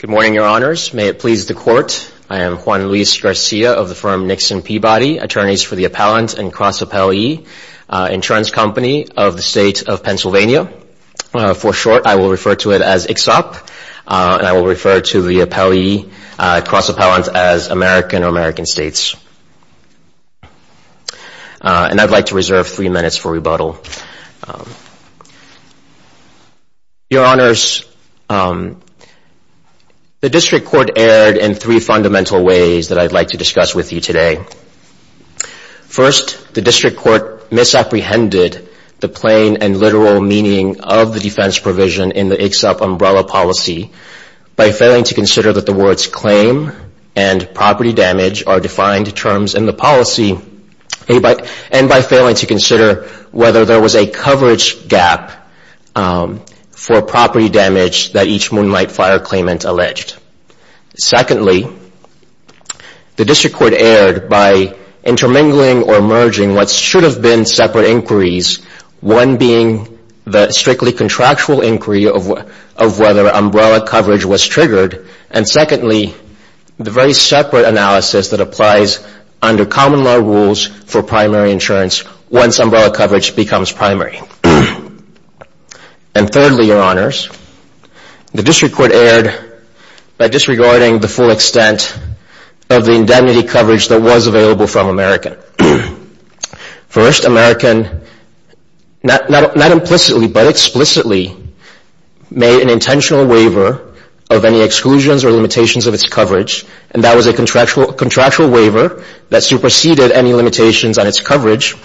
Good morning, Your Honors. May it please the Court, I am Juan Luis Garcia of the firm Nixon Peabody, attorneys for the appellant and cross-appellee insurance company of the State of Pennsylvania. For short, I will refer to it as ICSOP, and I will refer to the appellee, cross-appellant, as American or American States. And I'd like to reserve three minutes for rebuttal. Your Honors, the District Court erred in three fundamental ways that I'd like to discuss with you today. First, the District Court misapprehended the plain and literal meaning of the defense provision in the ICSOP umbrella policy by failing to consider that the words claim and property damage are defined terms in the policy, and by failing to consider whether there was a coverage gap for property damage that each moonlight fire claimant alleged. Secondly, the District Court erred by intermingling or merging what should have been separate inquiries, one being the strictly contractual inquiry of whether umbrella coverage was triggered, and secondly, the very separate analysis that applies under common law rules for primary insurance once umbrella coverage becomes primary. And thirdly, Your Honors, the District Court erred by disregarding the full extent of the indemnity coverage that was available from American. First, American not implicitly but explicitly made an intentional waiver of any exclusions or limitations of its coverage, and that was a contractual waiver that superseded any limitations on its coverage.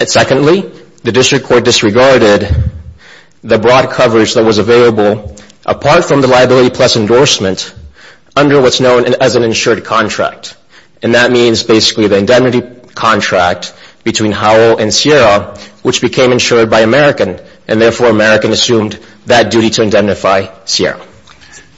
And secondly, the District Court disregarded the broad coverage that was available, apart from the liability plus endorsement, under what's known as an insured contract. And that means basically the indemnity contract between Howell and Sierra, which became insured by American, and therefore American assumed that duty to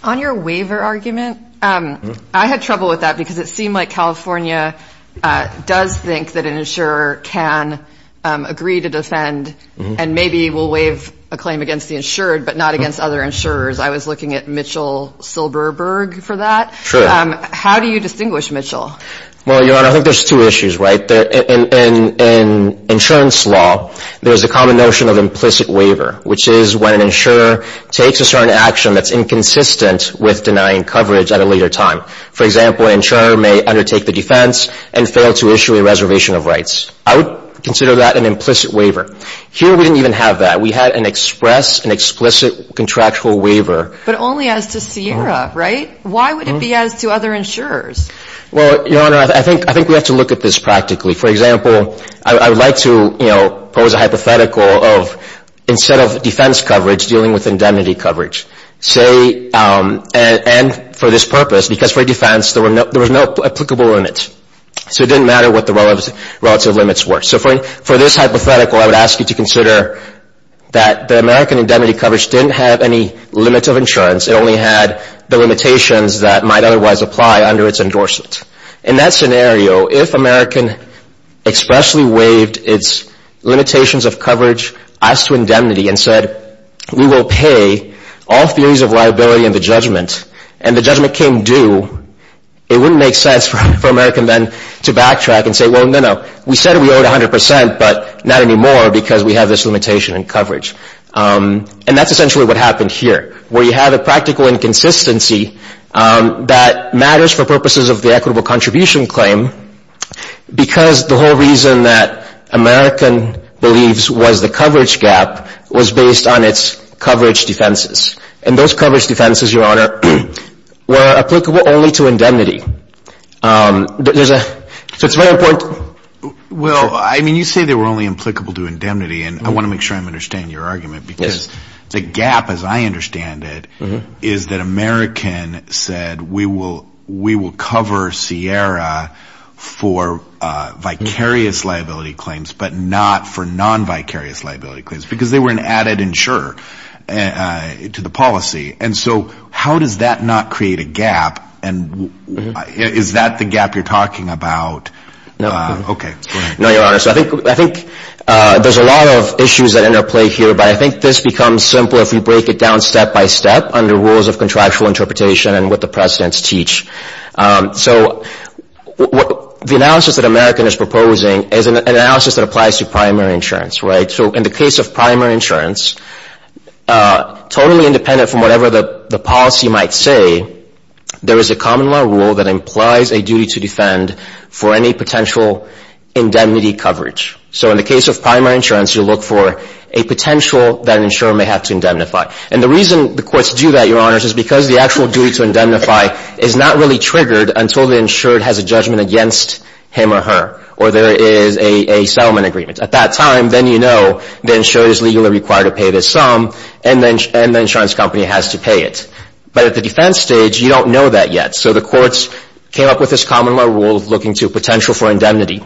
On your waiver argument, I had trouble with that because it seemed like California does think that an insurer can agree to defend and maybe will waive a claim against the insured but not against other insurers. I was looking at Mitchell Silberberg for that. How do you distinguish Mitchell? Well, Your Honor, I think there's two issues, right? In insurance law, there's a common notion of implicit waiver, which is when an insurer takes a certain action that's inconsistent with denying coverage at a later time. For example, an insurer may undertake the defense and fail to issue a reservation of rights. I would consider that an implicit waiver. Here, we didn't even have that. We had an express, an explicit contractual waiver. But only as to Sierra, right? Why would it be as to other insurers? Well, Your Honor, I think we have to look at this practically. For example, I would like to pose a hypothetical of, instead of defense coverage, dealing with indemnity coverage. And for this purpose, because for defense, there were no applicable limits. So it didn't matter what the relative limits were. So for this hypothetical, I would ask you to consider that the American indemnity coverage didn't have any limits of insurance. It only had the limitations that might otherwise apply under its endorsement. In that scenario, if American expressly waived its limitations of coverage as to indemnity and said, we will pay all theories of liability in the judgment, and the judgment came due, it wouldn't make sense for American then to backtrack and say, well, no, no. We said we owed 100 percent, but not anymore because we have this limitation in coverage. And that's essentially what happened here, where you have a practical inconsistency that matters for purposes of the equitable contribution claim because the whole reason that American believes was the coverage gap was based on its coverage defenses. And those coverage defenses, Your Honor, were applicable only to indemnity. So it's very important. Well, I mean, you say they were only applicable to indemnity, and I want to make sure I understand your argument, because the gap, as I understand it, is that American said, we will cover Sierra for vicarious liability claims, but not for non-vicarious liability claims, because they were an added insurer to the policy. And so how does that not create a gap? And is that the gap you're talking about? No, Your Honor. So I think there's a lot of issues that interplay here, but I think this becomes simpler if we break it down step by step under rules of contractual interpretation and what the precedents teach. So the analysis that American is proposing is an analysis that applies to primary insurance, right? So in the case of primary insurance, totally independent from whatever the policy might say, there is a common law rule that implies a duty to defend for any potential indemnity coverage. So in the case of primary insurance, you look for a potential that an insurer may have to indemnify. And the reason the courts do that, Your Honor, is because the actual duty to indemnify is not really triggered until the insurer has a judgment against him or her, or there is a settlement agreement. At that time, then you know the insurer is legally required to pay this sum, and the insurance company has to pay it. But at the defense stage, you don't know that yet. So the courts came up with this common law rule looking to potential for indemnity.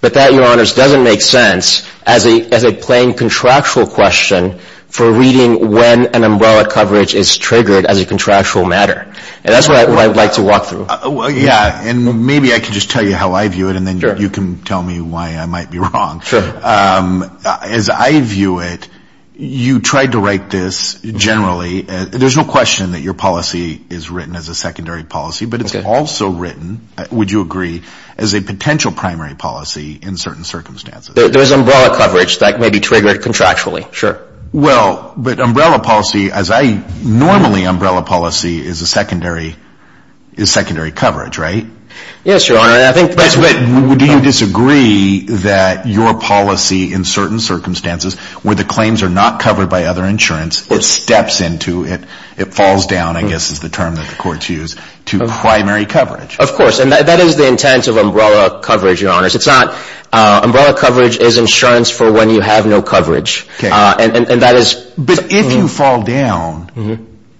But that, Your Honors, doesn't make sense as a plain contractual question for reading when an umbrella coverage is triggered as a contractual matter. And that's what I'd like to walk through. Yeah, and maybe I can just tell you how I view it, and then you can tell me why I might be wrong. As I view it, you tried to write this generally. There's no question that your policy is written as a secondary policy, but it's also written, would you agree, as a potential primary policy in certain circumstances. There's umbrella coverage that may be triggered contractually, sure. Well, but umbrella policy, as I normally umbrella policy is secondary to primary coverage, right? Yes, Your Honor, and I think that's right. But do you disagree that your policy in certain circumstances, where the claims are not covered by other insurance, it steps into, it falls down, I guess is the term that the courts use, to primary coverage? Of course, and that is the intent of umbrella coverage, Your Honors. It's not, umbrella coverage is insurance for when you have no coverage. And that is... But if you fall down,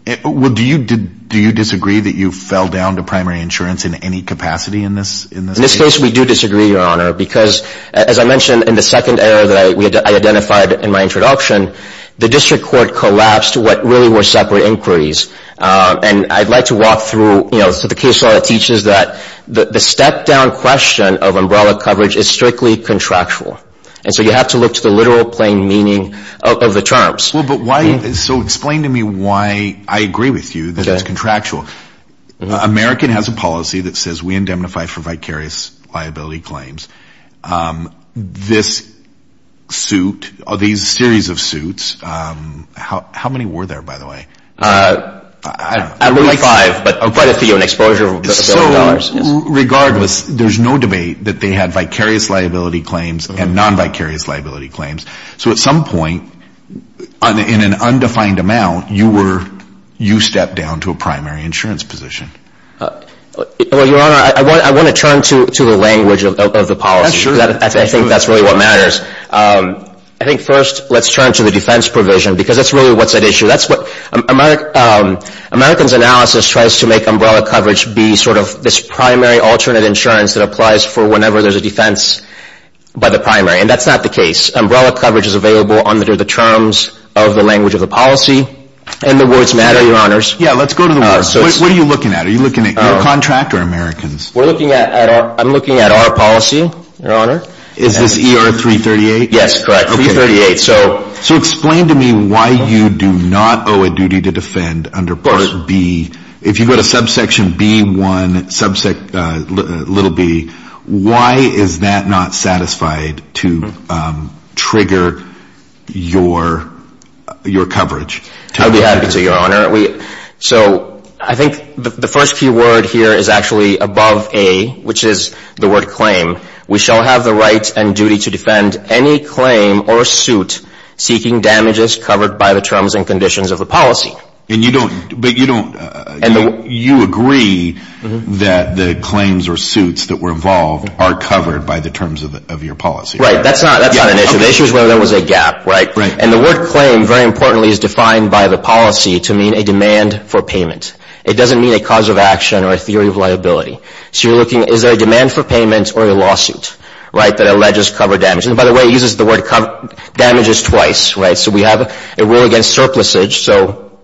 do you disagree that you fell down to primary insurance in any capacity in this case? In this case, we do disagree, Your Honor, because, as I mentioned in the second error that I identified in my introduction, the district court collapsed what really were separate inquiries. And I'd like to walk through, so the case law teaches that the step-down question of umbrella coverage is strictly contractual. And so you have to look to the literal plain meaning of the terms. Well, but why, so explain to me why I agree with you that it's contractual. American has a policy that says we indemnify for vicarious liability claims. This suit, these series of suits, how many were there, by the way? I believe five, but I'll credit to you an exposure of a billion dollars. So, regardless, there's no debate that they had vicarious liability claims and non-vicarious liability claims. So at some point, in an undefined amount, you were, you stepped down to a primary insurance position. Well, Your Honor, I want to turn to the language of the policy, because I think that's really what matters. I think first, let's turn to the defense provision, because that's really what's at issue. That's what, American's analysis tries to make umbrella coverage be sort of this primary alternate insurance that applies for whenever there's a defense by the primary, and that's not the case. Umbrella coverage is available under the terms of the language of the policy and the words matter, Your Honors. Yeah, let's go to the words. What are you looking at? Are you looking at your contract or American's? We're looking at, I'm looking at our policy, Your Honor. Is this ER 338? Yes, correct, 338. So explain to me why you do not owe a duty to defend under Part B. Of course. If you go to subsection B1, subsection, little b, why is that not satisfied to trigger your, your coverage? I'll be happy to, Your Honor. So I think the first key word here is actually above A, which is the word claim. We shall have the right and duty to defend any claim or suit seeking damages covered by the terms and conditions of the policy. And you don't, but you don't, you agree that the claims or suits that were involved are covered by the terms of your policy. Right, that's not, that's not an issue. The issue is whether there was a gap, right? And the word claim, very importantly, is defined by the policy to mean a demand for payment. It doesn't mean a cause of action or a theory of liability. So you're looking, is there a demand for payment or a lawsuit, right, that alleges cover damage? And by the way, it uses the word damages twice, right? So we have a rule against surplusage. So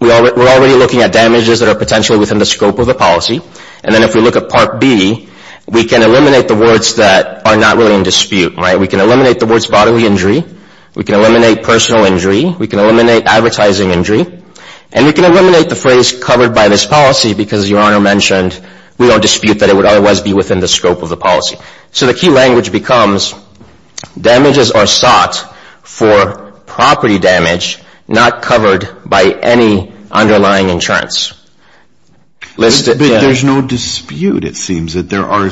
we're already looking at damages that are potentially within the scope of the policy. And then if we look at Part B, we can eliminate the words that are not really in dispute, right? We can eliminate the words bodily injury. We can eliminate personal injury. We can eliminate advertising injury. And we can eliminate the phrase covered by this policy because, Your Honor mentioned, we don't dispute that it would otherwise be within the scope of the policy. So the key language becomes damages are sought for property damage not covered by any underlying insurance. But there's no dispute, it seems, that there are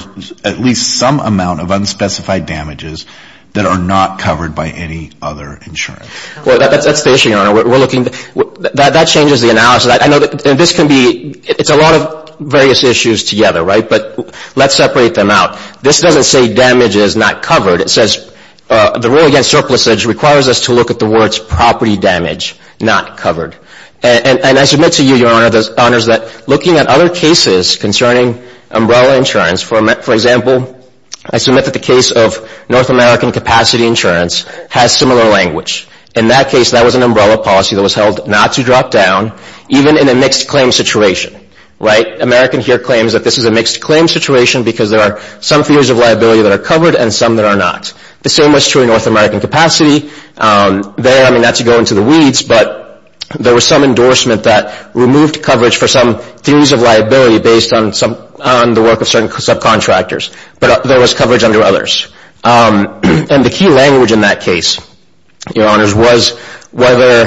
at least some amount of unspecified damages that are not covered by any other insurance. Well, that's the issue, Your Honor. We're looking, that changes the analysis. I know that this can be, it's a lot of various issues together, right? But let's separate them out. This doesn't say damages not covered. It says the rule against surplusage requires us to look at the words property damage not covered. And I submit to you, Your Honor, that looking at other cases concerning umbrella insurance, for example, I submit that the case of North American Capacity Insurance has similar language. In that case, that was an umbrella policy that was held not to drop down even in a mixed claim situation, right? American here claims that this is a mixed claim situation because there are some theories of liability that are covered and some that are not. The same was true in North American Capacity. There, I mean, that's to go into the weeds, but there was some endorsement that removed coverage for some theories of liability based on some, on the work of certain subcontractors, but there was coverage under others. And the key language in that case, Your Honors, was whether,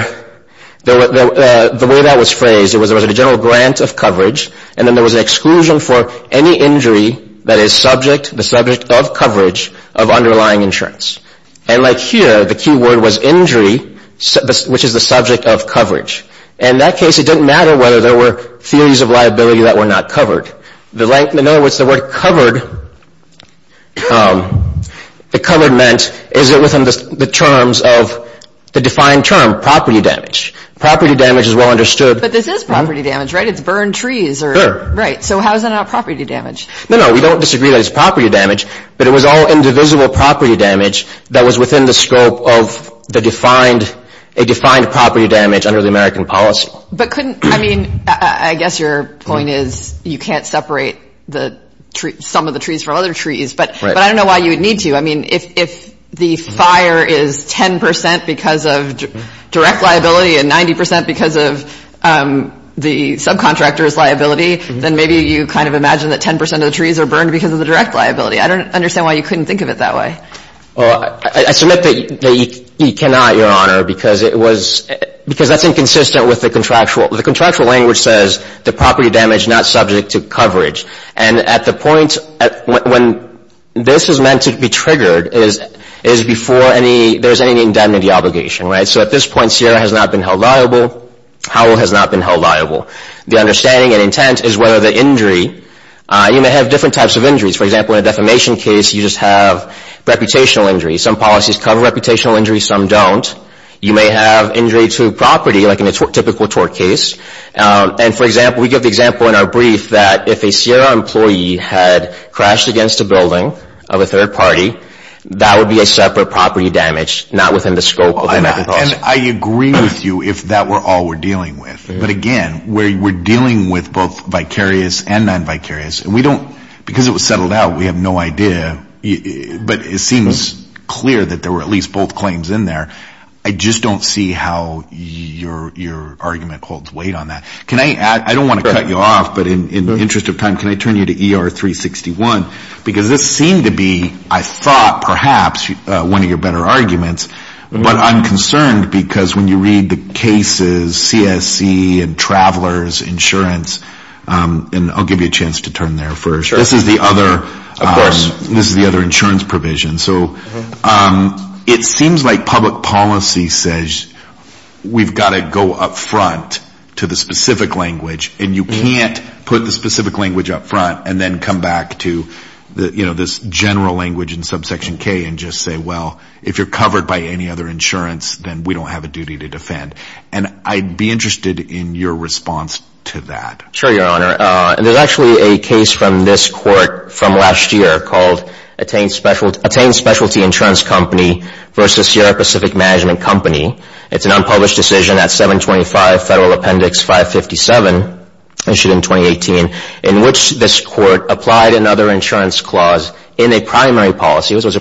the way that was phrased, it meant that there was an exclusion for any injury that is subject, the subject of coverage of underlying insurance. And like here, the key word was injury, which is the subject of coverage. In that case, it didn't matter whether there were theories of liability that were not covered. The length, in other words, the word covered, the covered meant, is it within the terms of the defined term, property damage. Property damage is well understood. But this is property damage, right? It's burned trees. Sure. Right. So how is that not property damage? No, no. We don't disagree that it's property damage, but it was all indivisible property damage that was within the scope of the defined, a defined property damage under the American policy. But couldn't, I mean, I guess your point is you can't separate the, some of the trees from other trees. Right. But I don't know why you would need to. I mean, if the fire is 10 percent because of direct liability and 90 percent because of the subcontractor's liability, then maybe you kind of imagine that 10 percent of the trees are burned because of the direct liability. I don't understand why you couldn't think of it that way. Well, I submit that you cannot, Your Honor, because it was, because that's inconsistent with the contractual. The contractual language says the property damage not subject to coverage. And at the point when this is meant to be triggered is before any, there's any indemnity obligation, right? So at this point, Sierra has not been held liable. Howell has not been held liable. The understanding and intent is whether the injury, you may have different types of injuries. For example, in a defamation case, you just have reputational injuries. Some policies cover reputational injuries, some don't. You may have injury to property, like in a typical tort case. And for example, we give the example in our brief that if a Sierra employee had crashed against a building of a third party, that would be a separate property damage, not within the scope of the method. And I agree with you if that were all we're dealing with. But again, we're dealing with both vicarious and non-vicarious, and we don't, because it was settled out, we have no idea, but it seems clear that there were at least both claims in there. I just don't see how your argument holds weight on that. Can I add, I don't want to cut you off, but in the interest of time, can I turn you to But I'm concerned because when you read the cases, CSC and travelers insurance, and I'll give you a chance to turn there first. This is the other insurance provision. So it seems like public policy says we've got to go up front to the specific language and you can't put the specific language up front and then come back to this general language in subsection K and just say, well, if you're covered by any other insurance, then we don't have a duty to defend. And I'd be interested in your response to that. Sure, Your Honor. And there's actually a case from this court from last year called Attain Specialty Insurance Company versus Sierra Pacific Management Company. It's an unpublished decision at 725 Federal Appendix 557, issued in 2018, in which this was a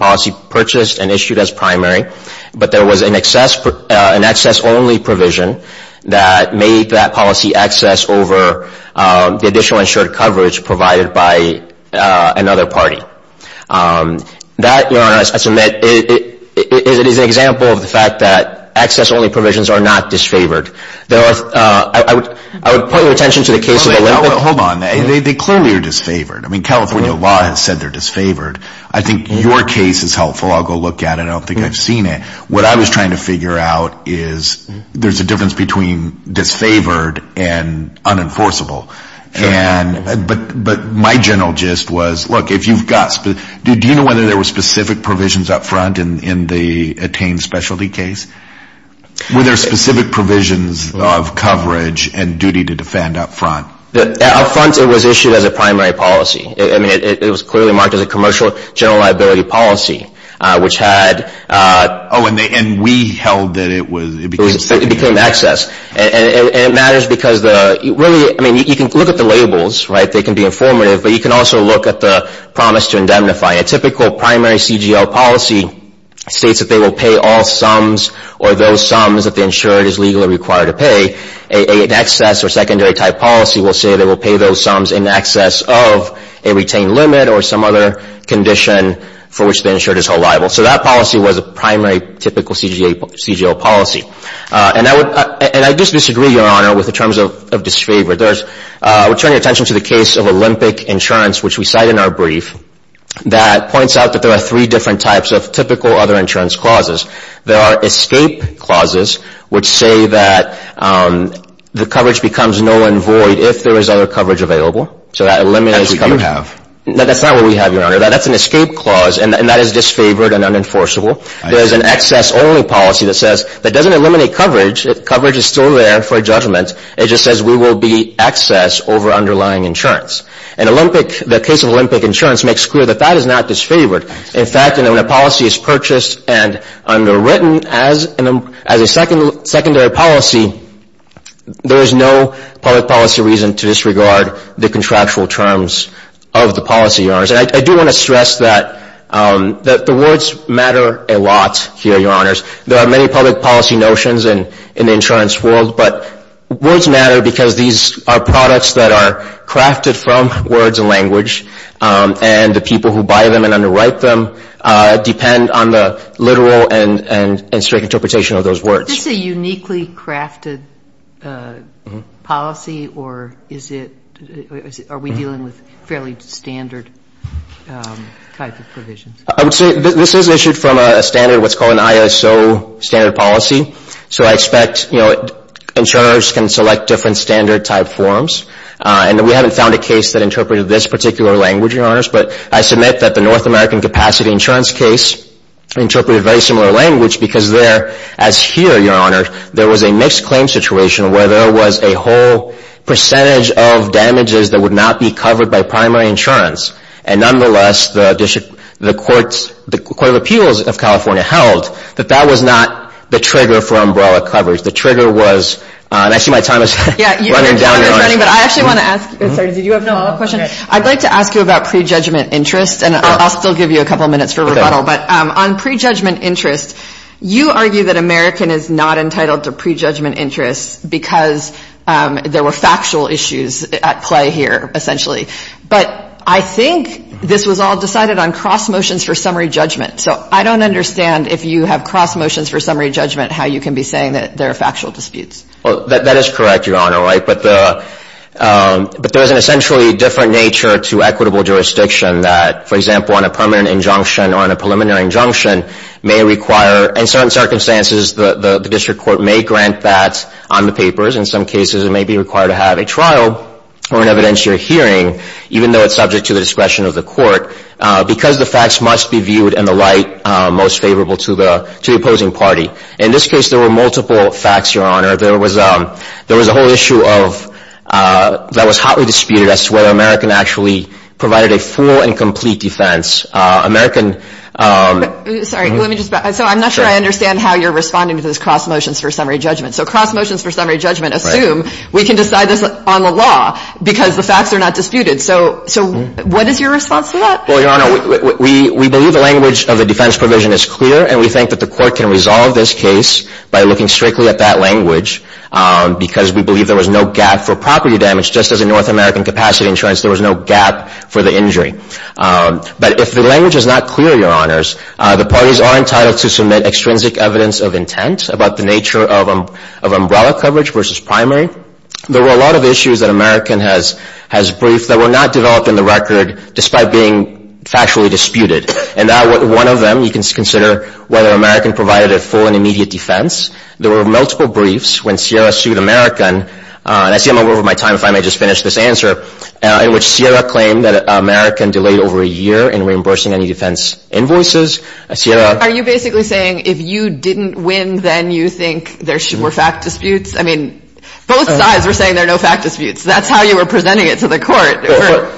policy purchased and issued as primary. But there was an access-only provision that made that policy access over the additional insured coverage provided by another party. That, Your Honor, I submit, is an example of the fact that access-only provisions are not disfavored. There are, I would point your attention to the case of Olympic. Hold on. They clearly are disfavored. I mean, California law has said they're disfavored. I think your case is helpful. I'll go look at it. I don't think I've seen it. What I was trying to figure out is there's a difference between disfavored and unenforceable. But my general gist was, look, if you've got – do you know whether there were specific provisions up front in the Attain Specialty case? Were there specific provisions of coverage and duty to defend up front? Up front, it was issued as a primary policy. It was clearly marked as a commercial general liability policy, which had – Oh, and we held that it was – It became access. And it matters because the – really, I mean, you can look at the labels, right? They can be informative. But you can also look at the promise to indemnify. A typical primary CGL policy states that they will pay all sums or those sums that the insured is legally required to pay. An access or secondary type policy will say they will pay those sums in excess of a retained limit or some other condition for which the insured is held liable. So that policy was a primary typical CGL policy. And I just disagree, Your Honor, with the terms of disfavored. There's – we're turning attention to the case of Olympic Insurance, which we cite in our brief, that points out that there are three different types of typical other insurance clauses. There are escape clauses, which say that the coverage becomes null and void if there is other coverage available. So that eliminates – That's what you have. That's not what we have, Your Honor. That's an escape clause, and that is disfavored and unenforceable. There is an access-only policy that says – that doesn't eliminate coverage. Coverage is still there for judgment. It just says we will be access over underlying insurance. And Olympic – the case of Olympic Insurance makes clear that that is not disfavored. In fact, when a policy is purchased and underwritten as a secondary policy, there is no public policy reason to disregard the contractual terms of the policy, Your Honors. And I do want to stress that the words matter a lot here, Your Honors. There are many public policy notions in the insurance world, but words matter because these are products that are crafted from words and language. And the people who buy them and underwrite them depend on the literal and straight interpretation of those words. Is this a uniquely crafted policy, or is it – are we dealing with fairly standard type of provisions? I would say this is issued from a standard – what's called an ISO standard policy. So I expect, you know, insurers can select different standard-type forms. And we haven't found a case that interpreted this particular language, Your Honors. But I submit that the North American Capacity Insurance case interpreted a very similar language because there – as here, Your Honors, there was a mixed claim situation where there was a whole percentage of damages that would not be covered by primary insurance. And nonetheless, the court of appeals of California held that that was not the trigger for umbrella coverage. But I actually want to ask – sorry, did you have another question? I'd like to ask you about prejudgment interest, and I'll still give you a couple minutes for rebuttal. But on prejudgment interest, you argue that American is not entitled to prejudgment interest because there were factual issues at play here, essentially. But I think this was all decided on cross motions for summary judgment. So I don't understand if you have cross motions for summary judgment, how you can be saying that there are factual disputes. That is correct, Your Honor. But there is an essentially different nature to equitable jurisdiction that, for example, on a permanent injunction or on a preliminary injunction, may require – in certain circumstances, the district court may grant that on the papers. In some cases, it may be required to have a trial or an evidentiary hearing, even though it's subject to the discretion of the court, because the facts must be viewed in the light most favorable to the opposing party. In this case, there were multiple facts, Your Honor. There was a whole issue of – that was hotly disputed as to whether American actually provided a full and complete defense. American – Sorry. Let me just – so I'm not sure I understand how you're responding to this cross motions for summary judgment. So cross motions for summary judgment assume we can decide this on the law because the facts are not disputed. So what is your response to that? Well, Your Honor, we believe the language of the defense provision is clear, and we are looking strictly at that language because we believe there was no gap for property damage. Just as in North American capacity insurance, there was no gap for the injury. But if the language is not clear, Your Honors, the parties are entitled to submit extrinsic evidence of intent about the nature of umbrella coverage versus primary. There were a lot of issues that American has briefed that were not developed in the record despite being factually disputed. And one of them, you can consider whether American provided a full and immediate defense. There were multiple briefs when Sierra sued American – and I see I'm over my time. If I may just finish this answer – in which Sierra claimed that American delayed over a year in reimbursing any defense invoices. Sierra – Are you basically saying if you didn't win, then you think there were fact disputes? I mean, both sides were saying there are no fact disputes. That's how you were presenting it to the court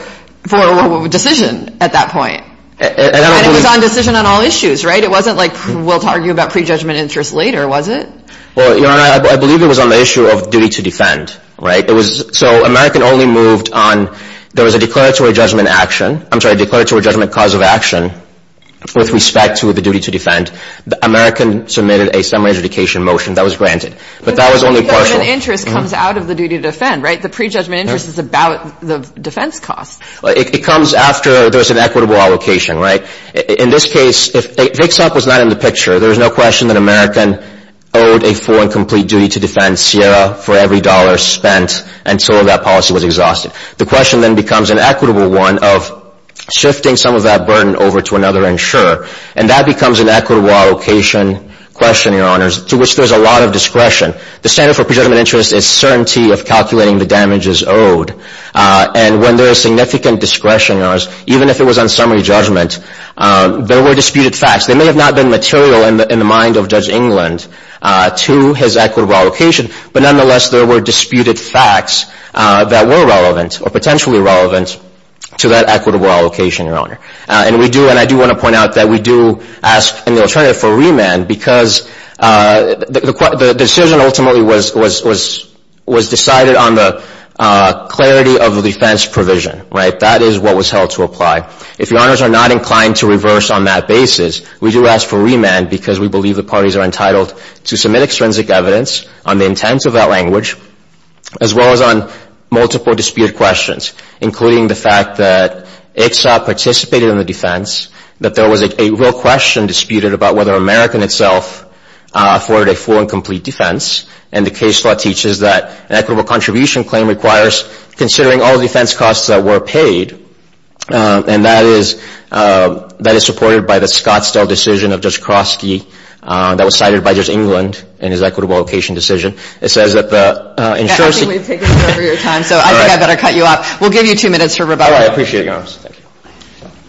for a decision at that point. And it was on decision on all issues, right? It wasn't like we'll argue about prejudgment interest later, was it? Well, Your Honor, I believe it was on the issue of duty to defend, right? So American only moved on – there was a declaratory judgment action – I'm sorry, a declaratory judgment cause of action with respect to the duty to defend. American submitted a summary adjudication motion. That was granted. But that was only partial. But the pre-judgment interest comes out of the duty to defend, right? The pre-judgment interest is about the defense cost. It comes after there's an equitable allocation, right? In this case, if VIXOP was not in the picture, there's no question that American owed a full and complete duty to defend Sierra for every dollar spent until that policy was exhausted. The question then becomes an equitable one of shifting some of that burden over to another insurer. And that becomes an equitable allocation question, Your Honor, to which there's a lot of discretion. The standard for pre-judgment interest is certainty of calculating the damages owed. And when there is significant discretion, even if it was on summary judgment, there were disputed facts. They may have not been material in the mind of Judge England to his equitable allocation, but nonetheless, there were disputed facts that were relevant or potentially relevant to that equitable allocation, Your Honor. And we do – and I do want to point out that we do ask in the alternative for remand because the decision ultimately was decided on the clarity of the defense provision, right? That is what was held to apply. If Your Honors are not inclined to reverse on that basis, we do ask for remand because we believe the parties are entitled to submit extrinsic evidence on the intent of that language as well as on multiple disputed questions, including the fact that VIXOP participated in the defense, that there was a real question disputed about whether American itself afforded a full and complete defense, and the case law teaches that an equitable contribution claim requires considering all defense costs that were paid, and that is supported by the Scottsdale decision of Judge Kroski that was cited by Judge England in his equitable allocation decision. It says that the – Yeah, I think we've taken over your time, so I think I better cut you off. We'll give you two minutes for rebuttal. All right. I appreciate it, Your Honors. Thank you. Thank you.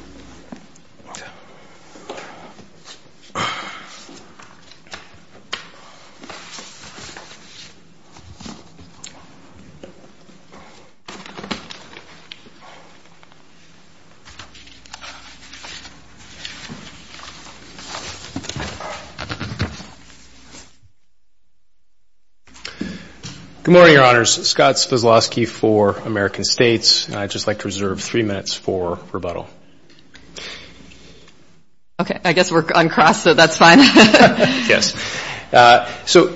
Okay. I guess we're uncrossed, so that's fine. Yes. So,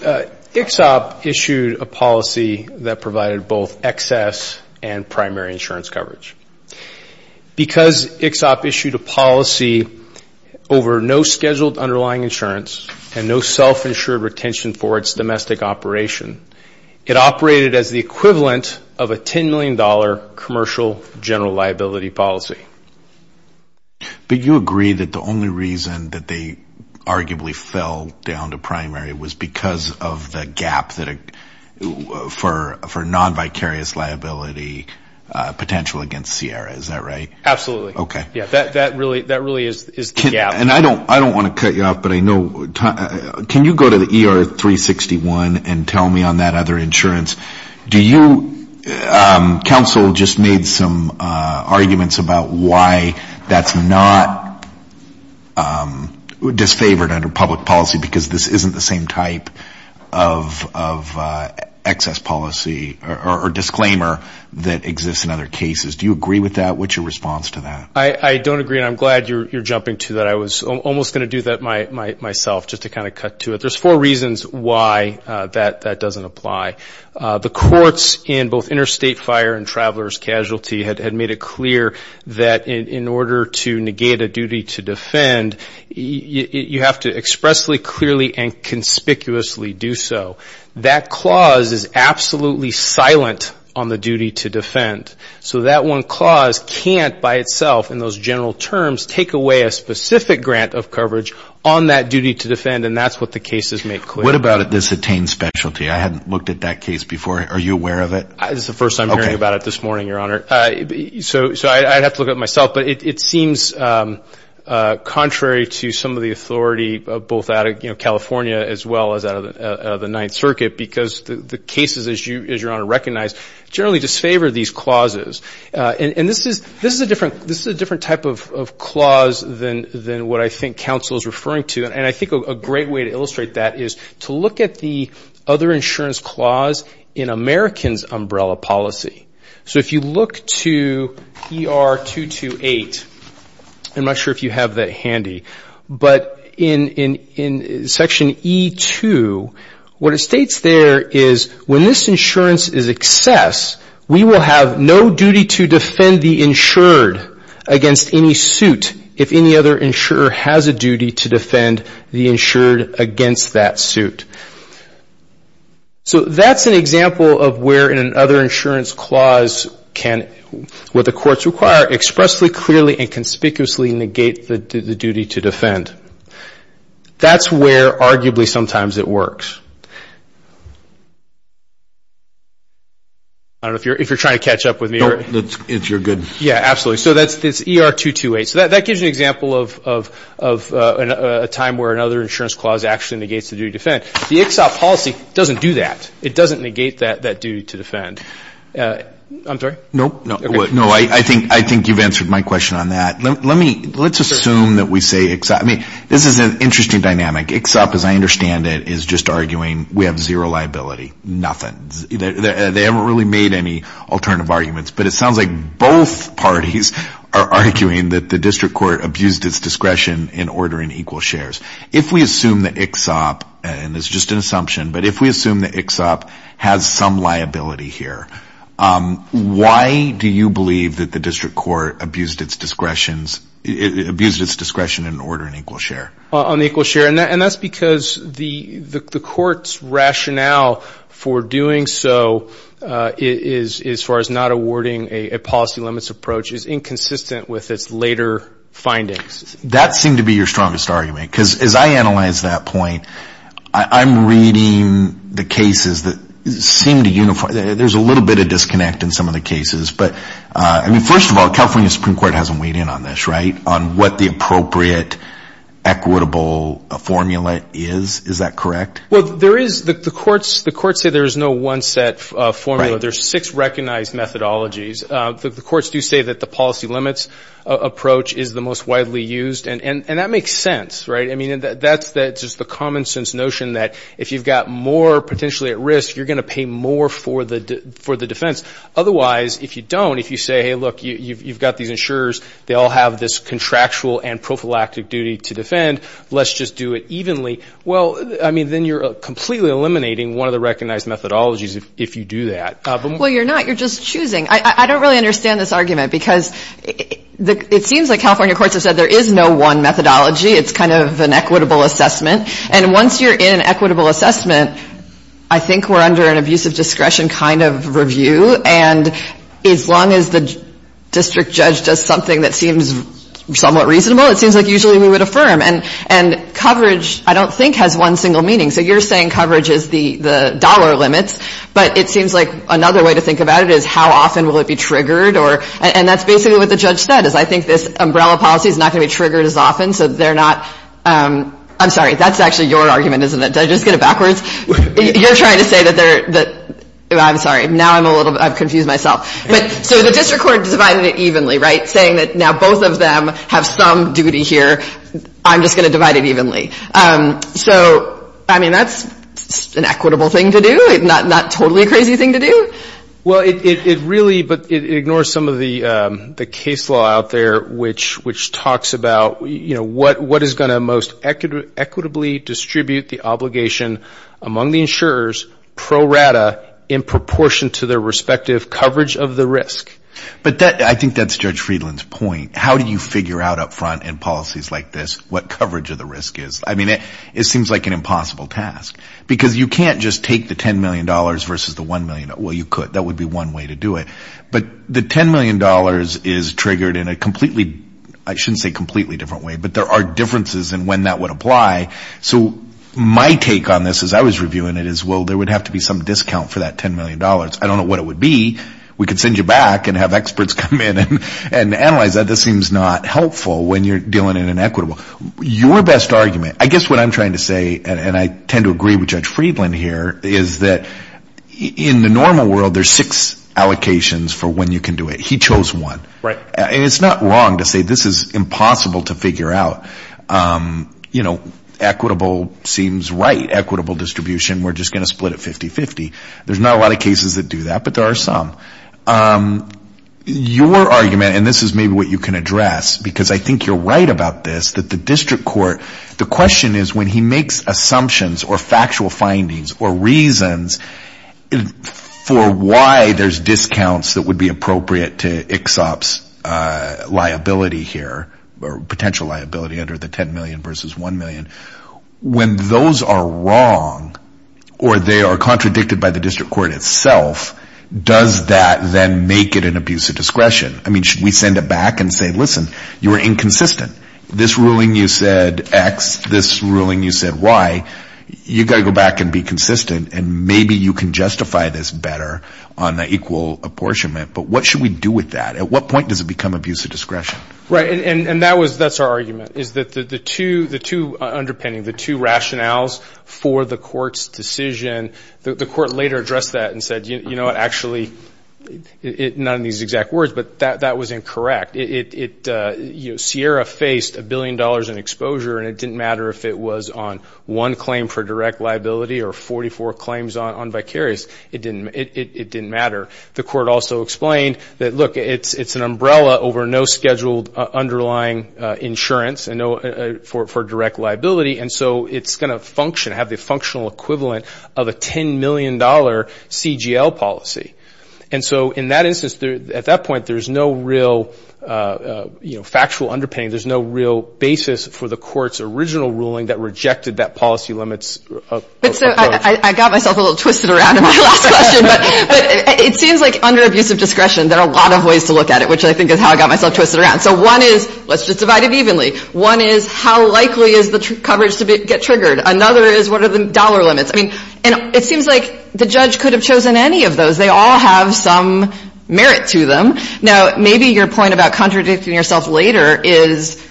ICHSOP issued a policy that provided both excess and primary insurance coverage. Because ICHSOP issued a policy over no scheduled underlying insurance and no self-insured retention for its domestic operation, it operated as the equivalent of a $10 million commercial general liability policy. But you agree that the only reason that they arguably fell down to primary was because of the gap for non-vicarious liability potential against Sierra. Is that right? Absolutely. Okay. Yes. That really is the gap. And I don't want to cut you off, but I know, can you go to the ER 361 and tell me on that other insurance, do you, council just made some arguments about why that's not disfavored under public policy because this isn't the same type of excess policy or disclaimer that exists in other cases. Do you agree with that? What's your response to that? I don't agree, and I'm glad you're jumping to that. I was almost going to do that myself just to kind of cut to it. There's four reasons why that doesn't apply. The courts in both interstate fire and traveler's casualty had made it clear that in order to negate a duty to defend, you have to expressly, clearly, and conspicuously do so. That clause is absolutely silent on the duty to defend. So that one clause can't by itself in those general terms take away a specific grant of coverage on that duty to defend, and that's what the cases make clear. What about this attained specialty? I hadn't looked at that case before. Are you aware of it? This is the first time I'm hearing about it this morning, Your Honor. So I'd have to look at it myself, but it seems contrary to some of the authority both out of California as well as out of the Ninth Circuit because the cases, as Your Honor recognized, generally disfavor these clauses. And this is a different type of clause than what I think counsel is referring to, and I think a great way to illustrate that is to look at the other insurance clause in Americans' umbrella policy. So if you look to ER 228, I'm not sure if you have that handy, but in Section E2, what it states there is when this insurance is excess, we will have no duty to defend the insured against any suit if any other insurer has a duty to defend the insured against that suit. So that's an example of where in an other insurance clause can, what the courts require, expressly, clearly, and conspicuously negate the duty to defend. That's where arguably sometimes it works. I don't know if you're trying to catch up with me. No, if you're good. Yeah, absolutely. So that's ER 228. So that gives you an example of a time where another insurance clause actually negates the duty to defend. The ICHSOP policy doesn't do that. It doesn't negate that duty to defend. I'm sorry? No. No, I think you've answered my question on that. Let's assume that we say ICHSOP. I mean, this is an interesting dynamic. ICHSOP, as I understand it, is just arguing we have zero liability, nothing. They haven't really made any alternative arguments, but it sounds like both parties are arguing that the district court abused its discretion in ordering equal shares. If we assume that ICHSOP, and it's just an assumption, but if we assume that ICHSOP has some liability here, why do you believe that the district court abused its discretion in ordering equal share? On equal share, and that's because the court's rationale for doing so, as far as not awarding a policy limits approach, is inconsistent with its later findings. That seemed to be your strongest argument. Because as I analyze that point, I'm reading the cases that seem to unify. There's a little bit of disconnect in some of the cases. But, I mean, first of all, California Supreme Court hasn't weighed in on this, right, on what the appropriate equitable formula is. Is that correct? Well, there is. The courts say there is no one set formula. There are six recognized methodologies. The courts do say that the policy limits approach is the most widely used, and that makes sense, right? I mean, that's just the common sense notion that if you've got more potentially at risk, you're going to pay more for the defense. Otherwise, if you don't, if you say, hey, look, you've got these insurers. They all have this contractual and prophylactic duty to defend. Let's just do it evenly. Well, I mean, then you're completely eliminating one of the recognized methodologies if you do that. Well, you're not. You're just choosing. I don't really understand this argument because it seems like California courts have said there is no one methodology. It's kind of an equitable assessment. And once you're in an equitable assessment, I think we're under an abusive discretion kind of review. And as long as the district judge does something that seems somewhat reasonable, it seems like usually we would affirm. And coverage, I don't think, has one single meaning. So you're saying coverage is the dollar limits. But it seems like another way to think about it is how often will it be triggered. And that's basically what the judge said, is I think this umbrella policy is not going to be triggered as often. So they're not. I'm sorry. That's actually your argument, isn't it? Did I just get it backwards? You're trying to say that they're – I'm sorry. Now I'm a little – I've confused myself. So the district court divided it evenly, right, saying that now both of them have some duty here. I'm just going to divide it evenly. So, I mean, that's an equitable thing to do. Not totally a crazy thing to do. Well, it really – but it ignores some of the case law out there, which talks about, you know, what is going to most equitably distribute the obligation among the insurers pro rata in proportion to their respective coverage of the risk. But I think that's Judge Friedland's point. How do you figure out up front in policies like this what coverage of the risk is? I mean, it seems like an impossible task. Because you can't just take the $10 million versus the $1 million. Well, you could. That would be one way to do it. But the $10 million is triggered in a completely – I shouldn't say completely different way, but there are differences in when that would apply. So my take on this as I was reviewing it is, well, there would have to be some discount for that $10 million. I don't know what it would be. We could send you back and have experts come in and analyze that. This seems not helpful when you're dealing in an equitable. Your best argument – I guess what I'm trying to say, and I tend to agree with Judge Friedland here, is that in the normal world there's six allocations for when you can do it. He chose one. Right. And it's not wrong to say this is impossible to figure out. You know, equitable seems right, equitable distribution. We're just going to split it 50-50. There's not a lot of cases that do that, but there are some. Your argument, and this is maybe what you can address, because I think you're right about this, that the district court – the question is when he makes assumptions or factual findings or reasons for why there's discounts that would be appropriate to ICHSOP's liability here, or potential liability under the $10 million versus $1 million, when those are wrong or they are contradicted by the district court itself, does that then make it an abuse of discretion? I mean, should we send it back and say, listen, you were inconsistent. This ruling you said X. This ruling you said Y. You've got to go back and be consistent, and maybe you can justify this better on the equal apportionment. But what should we do with that? At what point does it become abuse of discretion? Right, and that's our argument, is that the two underpinning, the two rationales for the court's decision – the court later addressed that and said, you know what, actually, not in these exact words, but that was incorrect. Sierra faced $1 billion in exposure, and it didn't matter if it was on one claim for direct liability or 44 claims on vicarious. It didn't matter. The court also explained that, look, it's an umbrella over no scheduled underlying insurance for direct liability, and so it's going to function, have the functional equivalent of a $10 million CGL policy. And so in that instance, at that point, there's no real factual underpinning. There's no real basis for the court's original ruling that rejected that policy limits. I got myself a little twisted around in my last question, but it seems like under abuse of discretion, there are a lot of ways to look at it, which I think is how I got myself twisted around. So one is, let's just divide it evenly. One is, how likely is the coverage to get triggered? Another is, what are the dollar limits? I mean, it seems like the judge could have chosen any of those. They all have some merit to them. Now, maybe your point about contradicting yourself later is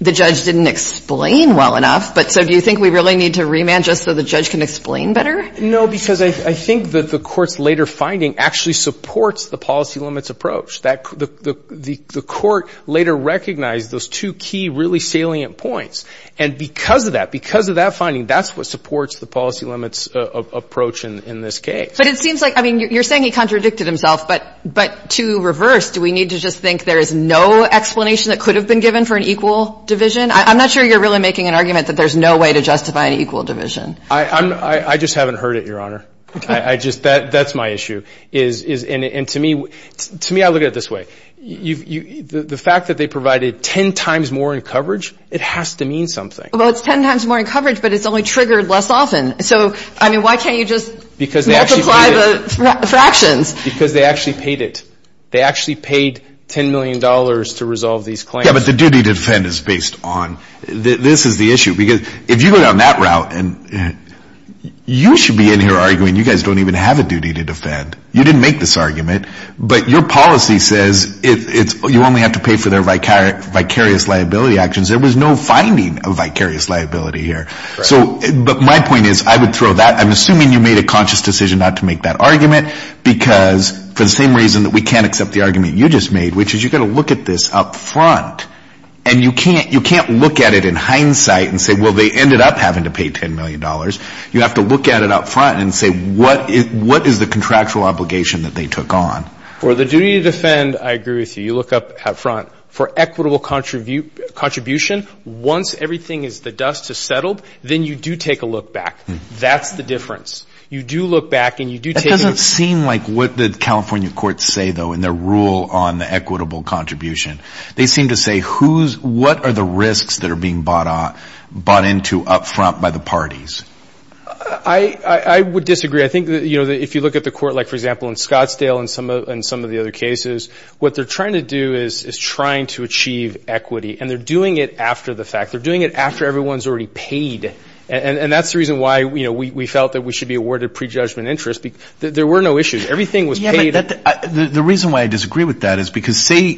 the judge didn't explain well enough, but so do you think we really need to remand just so the judge can explain better? No, because I think that the court's later finding actually supports the policy limits approach. The court later recognized those two key really salient points, and because of that, because of that finding, that's what supports the policy limits approach in this case. But it seems like, I mean, you're saying he contradicted himself, but to reverse, do we need to just think there is no explanation that could have been given for an equal division? I'm not sure you're really making an argument that there's no way to justify an equal division. I just haven't heard it, Your Honor. That's my issue. And to me, I look at it this way. The fact that they provided 10 times more in coverage, it has to mean something. Well, it's 10 times more in coverage, but it's only triggered less often. So, I mean, why can't you just multiply the fractions? Because they actually paid it. They actually paid $10 million to resolve these claims. Yeah, but the duty to defend is based on, this is the issue. Because if you go down that route, you should be in here arguing you guys don't even have a duty to defend. You didn't make this argument. But your policy says you only have to pay for their vicarious liability actions. There was no finding of vicarious liability here. But my point is, I would throw that. I'm assuming you made a conscious decision not to make that argument because for the same reason that we can't accept the argument you just made, which is you've got to look at this up front. And you can't look at it in hindsight and say, well, they ended up having to pay $10 million. You have to look at it up front and say, what is the contractual obligation that they took on? For the duty to defend, I agree with you. You look up up front. For equitable contribution, once everything is the dust has settled, then you do take a look back. That's the difference. You do look back and you do take a look. That doesn't seem like what the California courts say, though, in their rule on equitable contribution. They seem to say, what are the risks that are being bought into up front by the parties? I would disagree. I think if you look at the court, like, for example, in Scottsdale and some of the other cases, what they're trying to do is trying to achieve equity. And they're doing it after the fact. They're doing it after everyone's already paid. And that's the reason why we felt that we should be awarded prejudgment interest. There were no issues. Everything was paid. The reason why I disagree with that is because say,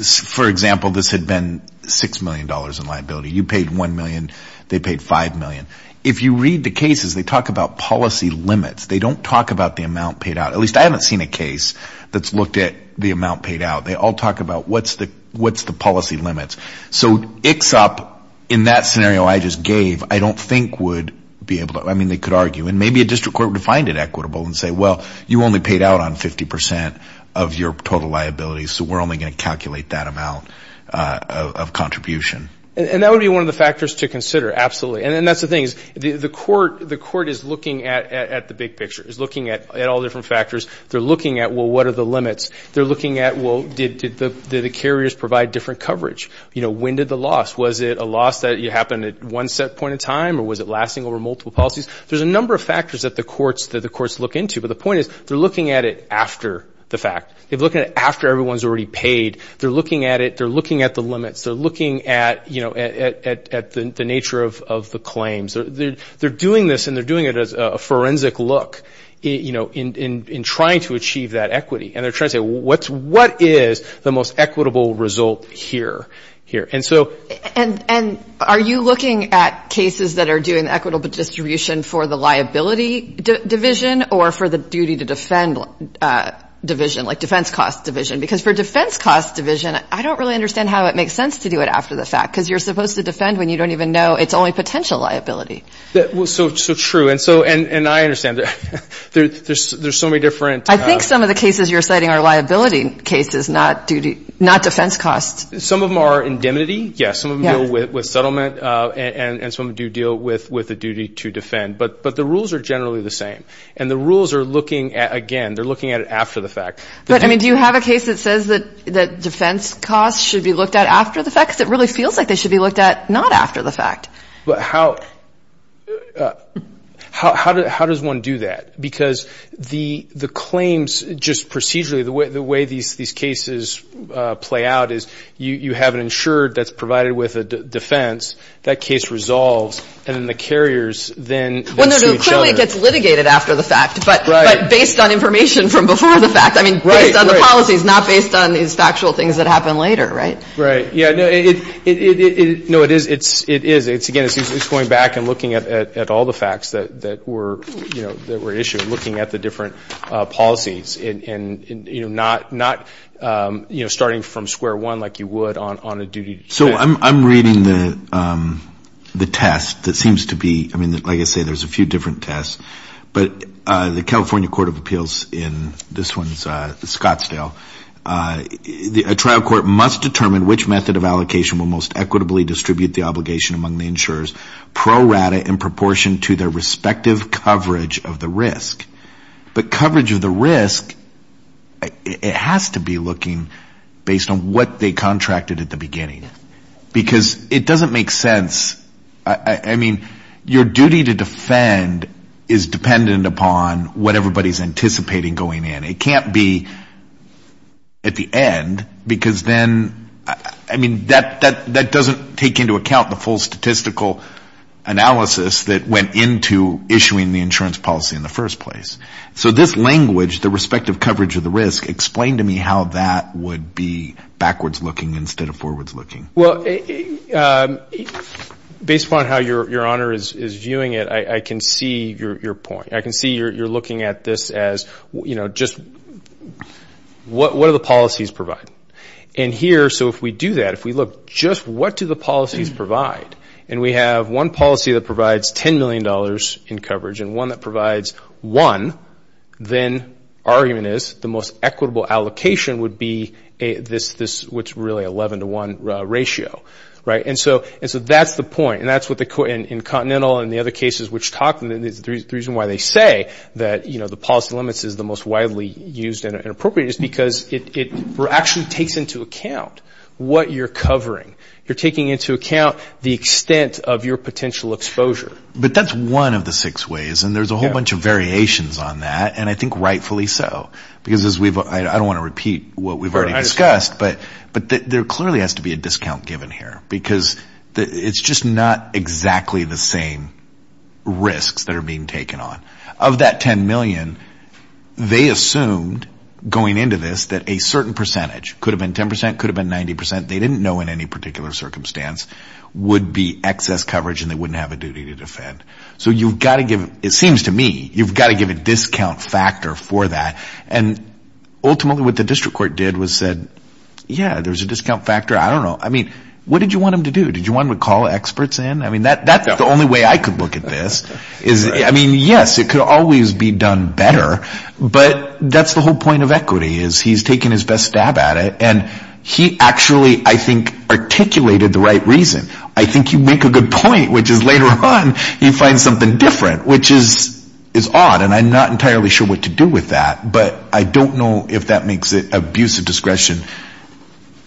for example, this had been $6 million in liability. You paid $1 million. They paid $5 million. If you read the cases, they talk about policy limits. They don't talk about the amount paid out. At least I haven't seen a case that's looked at the amount paid out. They all talk about what's the policy limits. So ICHSOP, in that scenario I just gave, I don't think would be able to. I mean, they could argue. And maybe a district court would find it equitable and say, well, you only paid out on 50% of your total liability, so we're only going to calculate that amount of contribution. And that would be one of the factors to consider, absolutely. And that's the thing is the court is looking at the big picture, is looking at all different factors. They're looking at, well, what are the limits? They're looking at, well, did the carriers provide different coverage? You know, when did the loss? Was it a loss that happened at one set point in time, or was it lasting over multiple policies? There's a number of factors that the courts look into. But the point is they're looking at it after the fact. They're looking at it after everyone's already paid. They're looking at it. They're looking at the limits. They're looking at, you know, at the nature of the claims. They're doing this, and they're doing it as a forensic look, you know, in trying to achieve that equity. And they're trying to say, well, what is the most equitable result here? And are you looking at cases that are doing equitable distribution for the liability division or for the duty to defend division, like defense cost division? Because for defense cost division, I don't really understand how it makes sense to do it after the fact, because you're supposed to defend when you don't even know it's only potential liability. So true, and I understand. There's so many different – I think some of the cases you're citing are liability cases, not defense costs. Some of them are indemnity, yes. Some of them deal with settlement, and some of them do deal with the duty to defend. But the rules are generally the same. And the rules are looking at, again, they're looking at it after the fact. But, I mean, do you have a case that says that defense costs should be looked at after the fact? Because it really feels like they should be looked at not after the fact. But how does one do that? Because the claims just procedurally, the way these cases play out, is you have an insurer that's provided with a defense, that case resolves, and then the carriers then sue each other. Well, no, no, clearly it gets litigated after the fact, but based on information from before the fact. Right, right. I mean, based on the policies, not based on these factual things that happen later, right? Right. Yeah, no, it is, again, it's going back and looking at all the facts that were issued, looking at the different policies, and not starting from square one like you would on a duty to defense. So I'm reading the test that seems to be, I mean, like I say, there's a few different tests. But the California Court of Appeals in, this one's Scottsdale, a trial court must determine which method of allocation will most equitably distribute the obligation among the insurers pro rata in proportion to their respective coverage of the risk. But coverage of the risk, it has to be looking based on what they contracted at the beginning. Because it doesn't make sense, I mean, your duty to defend is dependent upon what everybody's anticipating going in. It can't be at the end, because then, I mean, that doesn't take into account the full statistical analysis that went into issuing the insurance policy in the first place. So this language, the respective coverage of the risk, explain to me how that would be backwards looking instead of forwards looking. Well, based upon how Your Honor is viewing it, I can see your point. I can see you're looking at this as, you know, just what do the policies provide? And here, so if we do that, if we look just what do the policies provide, and we have one policy that provides $10 million in coverage and one that provides one, then argument is the most equitable allocation would be this, what's really 11 to 1 ratio, right? And so that's the point. And that's what the, in Continental and the other cases which talk, the reason why they say that, you know, the policy limits is the most widely used and appropriate is because it actually takes into account what you're covering. You're taking into account the extent of your potential exposure. But that's one of the six ways, and there's a whole bunch of variations on that, and I think rightfully so, because as we've, I don't want to repeat what we've already discussed, but there clearly has to be a discount given here, because it's just not exactly the same risks that are being taken on. Of that $10 million, they assumed, going into this, that a certain percentage, could have been 10%, could have been 90%, they didn't know in any particular circumstance, would be excess coverage and they wouldn't have a duty to defend. So you've got to give, it seems to me, you've got to give a discount factor for that. And ultimately what the district court did was said, yeah, there's a discount factor, I don't know. I mean, what did you want him to do? Did you want him to call experts in? I mean, that's the only way I could look at this. I mean, yes, it could always be done better, but that's the whole point of equity is he's taking his best stab at it, and he actually, I think, articulated the right reason. I think you make a good point, which is later on you find something different, which is odd, and I'm not entirely sure what to do with that, but I don't know if that makes it abusive discretion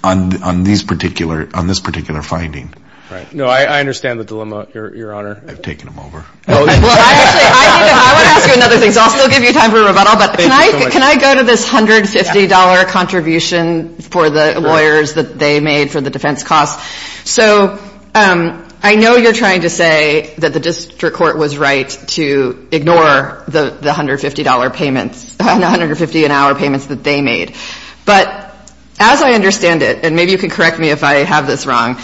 on this particular finding. No, I understand the dilemma, Your Honor. I've taken him over. I want to ask you another thing, so I'll still give you time for rebuttal, but can I go to this $150 contribution for the lawyers that they made for the defense costs? So I know you're trying to say that the district court was right to ignore the $150 payments, the $150 an hour payments that they made, but as I understand it, and maybe you can correct me if I have this wrong,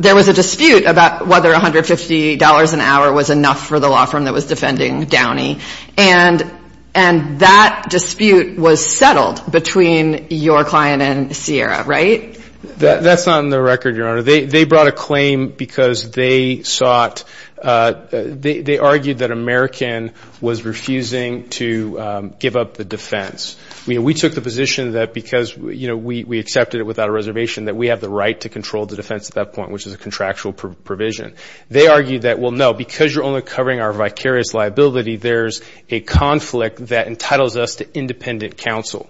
there was a dispute about whether $150 an hour was enough for the law firm that was defending Downey, and that dispute was settled between your client and Sierra, right? That's not in the record, Your Honor. They brought a claim because they sought, they argued that American was refusing to give up the defense. We took the position that because, you know, we accepted it without a reservation, that we have the right to control the defense at that point, which is a contractual provision. They argued that, well, no, because you're only covering our vicarious liability, there's a conflict that entitles us to independent counsel,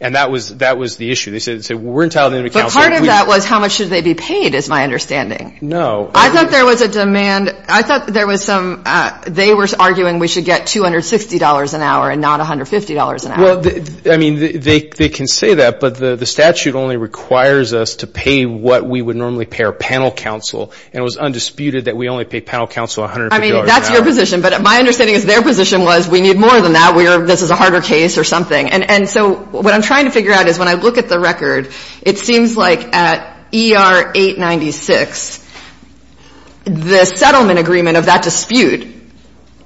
and that was the issue. They said, well, we're entitled to independent counsel. But part of that was how much should they be paid is my understanding. No. I thought there was a demand. I thought there was some, they were arguing we should get $260 an hour and not $150 an hour. Well, I mean, they can say that, but the statute only requires us to pay what we would normally pay our panel counsel, and it was undisputed that we only pay panel counsel $150 an hour. I mean, that's your position. But my understanding is their position was we need more than that. This is a harder case or something. And so what I'm trying to figure out is when I look at the record, it seems like at ER-896, the settlement agreement of that dispute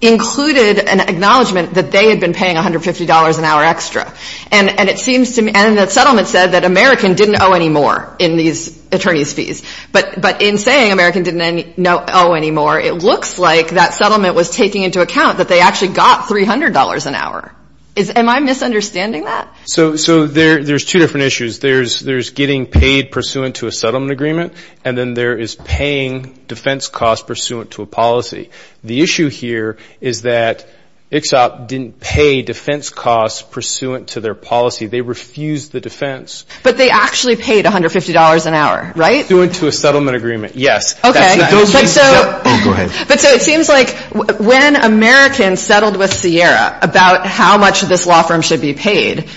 included an acknowledgement that they had been paying $150 an hour extra. And it seems to me, and the settlement said that American didn't owe any more in these attorney's fees. But in saying American didn't owe any more, it looks like that settlement was taking into account that they actually got $300 an hour. Am I misunderstanding that? So there's two different issues. There's getting paid pursuant to a settlement agreement, and then there is paying defense costs pursuant to a policy. The issue here is that ICHSOP didn't pay defense costs pursuant to their policy. They refused the defense. But they actually paid $150 an hour, right? Pursuant to a settlement agreement, yes. Okay. Oh, go ahead. But so it seems like when American settled with Sierra about how much this law firm should be paid,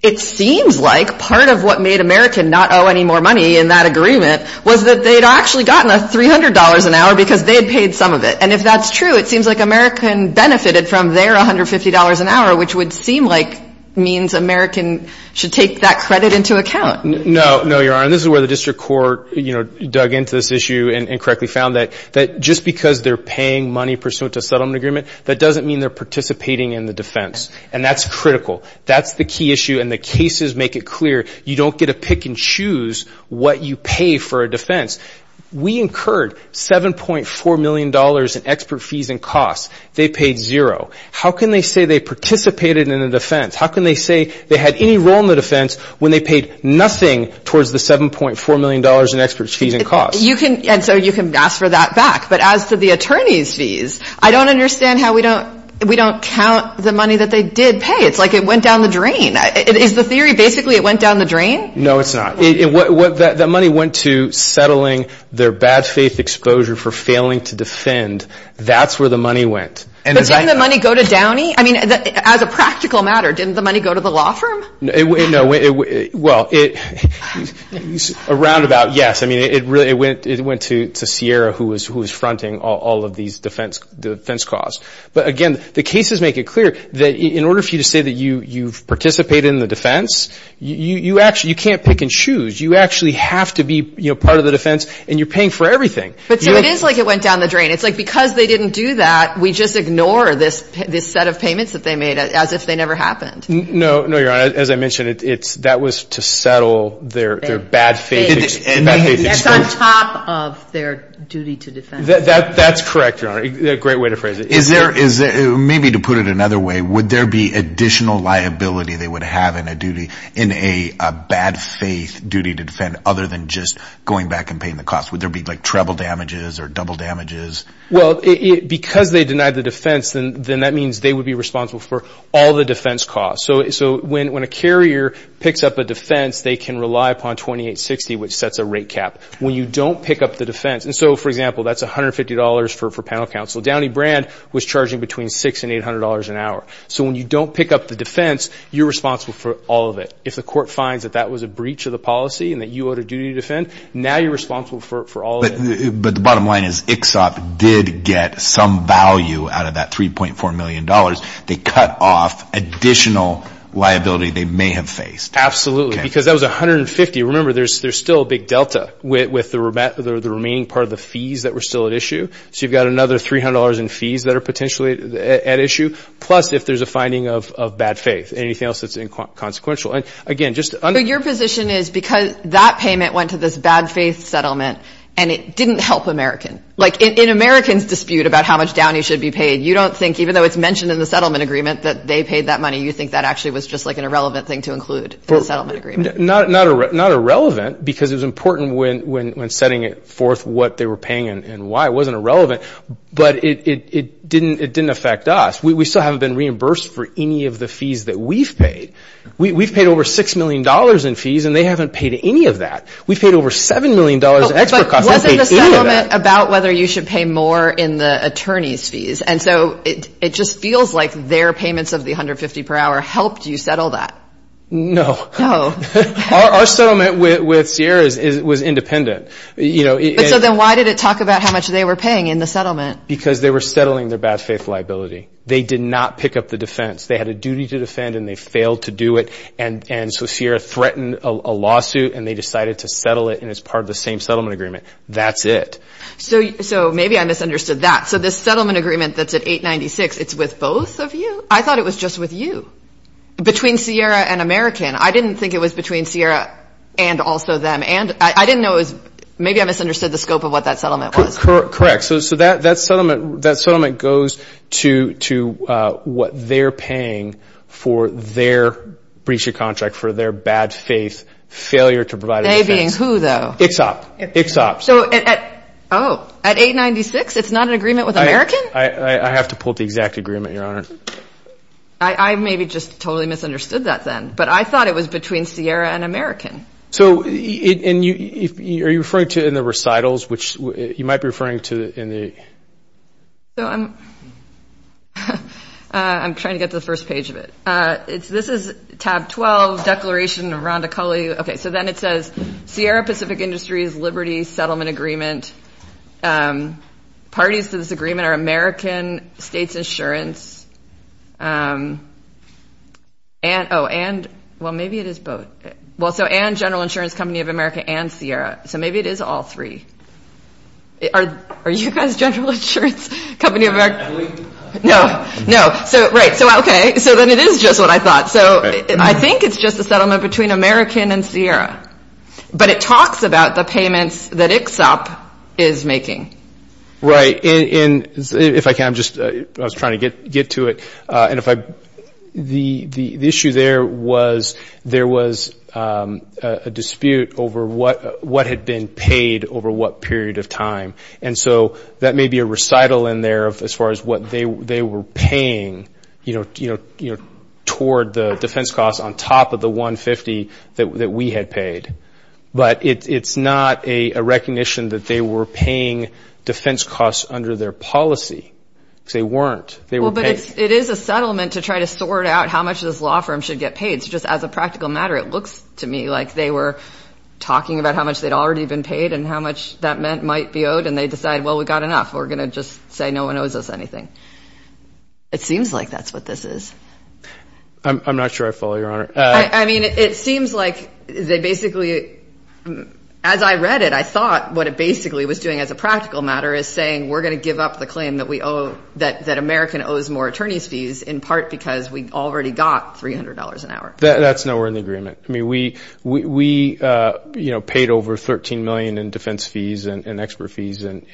it seems like part of what made American not owe any more money in that agreement was that they had actually gotten $300 an hour because they had paid some of it. And if that's true, it seems like American benefited from their $150 an hour, which would seem like means American should take that credit into account. No, no, Your Honor. This is where the district court, you know, dug into this issue and correctly found that just because they're paying money pursuant to a settlement agreement, that doesn't mean they're participating in the defense. And that's critical. That's the key issue, and the cases make it clear. You don't get to pick and choose what you pay for a defense. We incurred $7.4 million in expert fees and costs. They paid zero. How can they say they participated in the defense? How can they say they had any role in the defense when they paid nothing towards the $7.4 million in expert fees and costs? And so you can ask for that back. But as to the attorney's fees, I don't understand how we don't count the money that they did pay. It's like it went down the drain. Is the theory basically it went down the drain? No, it's not. The money went to settling their bad faith exposure for failing to defend. That's where the money went. But didn't the money go to Downey? I mean, as a practical matter, didn't the money go to the law firm? No. Well, a roundabout yes. I mean, it went to Sierra, who was fronting all of these defense costs. But, again, the cases make it clear that in order for you to say that you've participated in the defense, you can't pick and choose. You actually have to be part of the defense, and you're paying for everything. But so it is like it went down the drain. It's like because they didn't do that, we just ignore this set of payments that they made as if they never happened. No, Your Honor. As I mentioned, that was to settle their bad faith exposure. It's on top of their duty to defend. That's correct, Your Honor. Great way to phrase it. Maybe to put it another way, would there be additional liability they would have in a bad faith duty to defend other than just going back and paying the costs? Would there be like treble damages or double damages? Well, because they denied the defense, then that means they would be responsible for all the defense costs. So when a carrier picks up a defense, they can rely upon 2860, which sets a rate cap. When you don't pick up the defense, and so, for example, that's $150 for panel counsel. Downey Brand was charging between $600 and $800 an hour. So when you don't pick up the defense, you're responsible for all of it. If the court finds that that was a breach of the policy and that you owed a duty to defend, now you're responsible for all of it. But the bottom line is ICSOP did get some value out of that $3.4 million. They cut off additional liability they may have faced. Absolutely, because that was $150. Remember, there's still a big delta with the remaining part of the fees that were still at issue. So you've got another $300 in fees that are potentially at issue, plus if there's a finding of bad faith, anything else that's inconsequential. And, again, just to underline. But your position is because that payment went to this bad faith settlement, and it didn't help Americans. Like, in Americans' dispute about how much Downey should be paid, you don't think, even though it's mentioned in the settlement agreement that they paid that money, you think that actually was just like an irrelevant thing to include in the settlement agreement. Not irrelevant, because it was important when setting forth what they were paying and why. It wasn't irrelevant, but it didn't affect us. We still haven't been reimbursed for any of the fees that we've paid. We've paid over $6 million in fees, and they haven't paid any of that. We've paid over $7 million in extra costs. They haven't paid any of that. But wasn't the settlement about whether you should pay more in the attorney's fees? And so it just feels like their payments of the $150 per hour helped you settle that. No. No. Our settlement with Sierra was independent. So then why did it talk about how much they were paying in the settlement? Because they were settling their bad faith liability. They did not pick up the defense. They had a duty to defend, and they failed to do it. And so Sierra threatened a lawsuit, and they decided to settle it, and it's part of the same settlement agreement. That's it. So maybe I misunderstood that. So this settlement agreement that's at 896, it's with both of you? I thought it was just with you. Between Sierra and American. I didn't think it was between Sierra and also them. Maybe I misunderstood the scope of what that settlement was. Correct. So that settlement goes to what they're paying for their breach of contract, for their bad faith failure to provide a defense. They being who, though? Ixop. So at 896, it's not an agreement with American? I have to pull up the exact agreement, Your Honor. I maybe just totally misunderstood that then. But I thought it was between Sierra and American. So are you referring to in the recitals, which you might be referring to in the – So I'm trying to get to the first page of it. This is tab 12, Declaration of Ronda Culley. Okay, so then it says, Sierra Pacific Industries Liberty Settlement Agreement. Parties to this agreement are American, States Insurance. Oh, and – well, maybe it is both. Well, so and General Insurance Company of America and Sierra. So maybe it is all three. Are you guys General Insurance Company of America? No. No. So, right. So, okay. So then it is just what I thought. So I think it's just a settlement between American and Sierra. But it talks about the payments that Ixop is making. Right. And if I can, I'm just – I was trying to get to it. And if I – the issue there was there was a dispute over what had been paid over what period of time. And so that may be a recital in there as far as what they were paying, you know, toward the defense costs on top of the 150 that we had paid. But it's not a recognition that they were paying defense costs under their policy. Because they weren't. They were paid. Well, but it is a settlement to try to sort out how much this law firm should get paid. So just as a practical matter, it looks to me like they were talking about how much they'd already been paid and how much that might be owed. And they decide, well, we've got enough. We're going to just say no one owes us anything. It seems like that's what this is. I'm not sure I follow, Your Honor. I mean, it seems like they basically – as I read it, I thought what it basically was doing as a practical matter is saying, we're going to give up the claim that we owe – that American owes more attorney's fees in part because we already got $300 an hour. That's nowhere in the agreement. I mean, we, you know, paid over $13 million in defense fees and expert fees and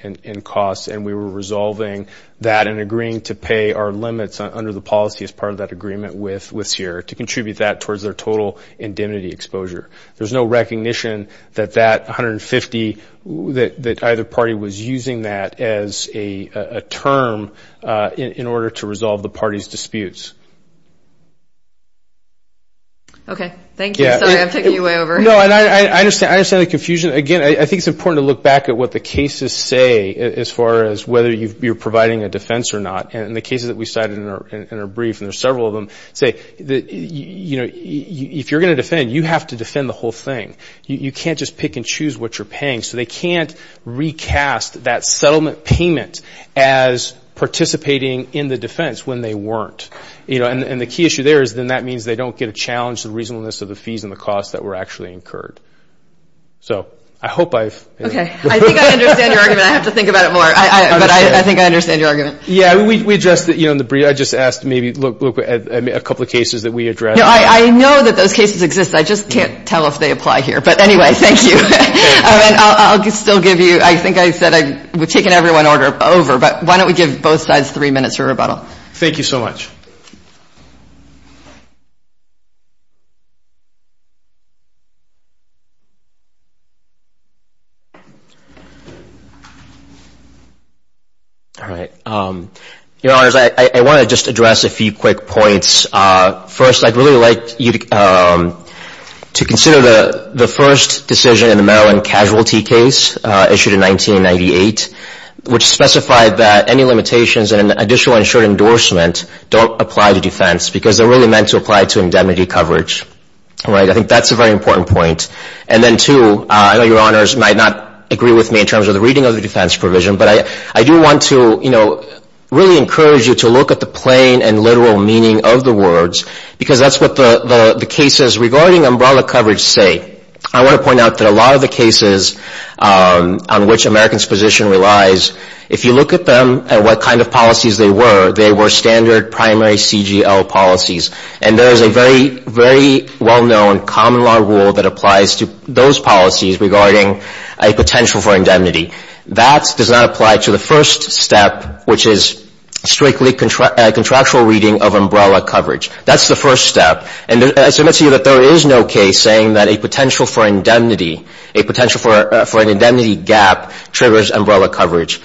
costs, and we were resolving that and agreeing to pay our limits under the policy as part of that agreement with CIRA to contribute that towards their total indemnity exposure. There's no recognition that that 150 – that either party was using that as a term in order to resolve the party's disputes. Okay. Thank you. Sorry, I'm taking you way over. No, and I understand the confusion. Again, I think it's important to look back at what the cases say as far as whether you're providing a defense or not. And the cases that we cited in our brief, and there's several of them, say, you know, if you're going to defend, you have to defend the whole thing. You can't just pick and choose what you're paying. So they can't recast that settlement payment as participating in the defense when they weren't. You know, and the key issue there is then that means they don't get a challenge to the reasonableness of the fees and the costs that were actually incurred. So I hope I've – Okay. I think I understand your argument. I have to think about it more. But I think I understand your argument. Yeah, we addressed it, you know, in the brief. I just asked to maybe look at a couple of cases that we addressed. No, I know that those cases exist. I just can't tell if they apply here. But anyway, thank you. I'll still give you – I think I said I've taken everyone over. But why don't we give both sides three minutes for rebuttal. Thank you so much. All right. Your Honors, I want to just address a few quick points. First, I'd really like you to consider the first decision in the Maryland casualty case issued in 1998, which specified that any limitations and an additional insured endorsement don't apply to defense because they're really meant to apply to indemnity coverage. All right. I think that's a very important point. And then, two, I know Your Honors might not agree with me in terms of the reading of the defense provision, but I do want to, you know, really encourage you to look at the plain and literal meaning of the words because that's what the cases regarding umbrella coverage say. I want to point out that a lot of the cases on which Americans' position relies, if you look at them and what kind of policies they were, they were standard primary CGL policies. And there is a very, very well-known common law rule that applies to those policies regarding a potential for indemnity. That does not apply to the first step, which is strictly contractual reading of umbrella coverage. That's the first step. And I submit to you that there is no case saying that a potential for indemnity, a potential for an indemnity gap triggers umbrella coverage.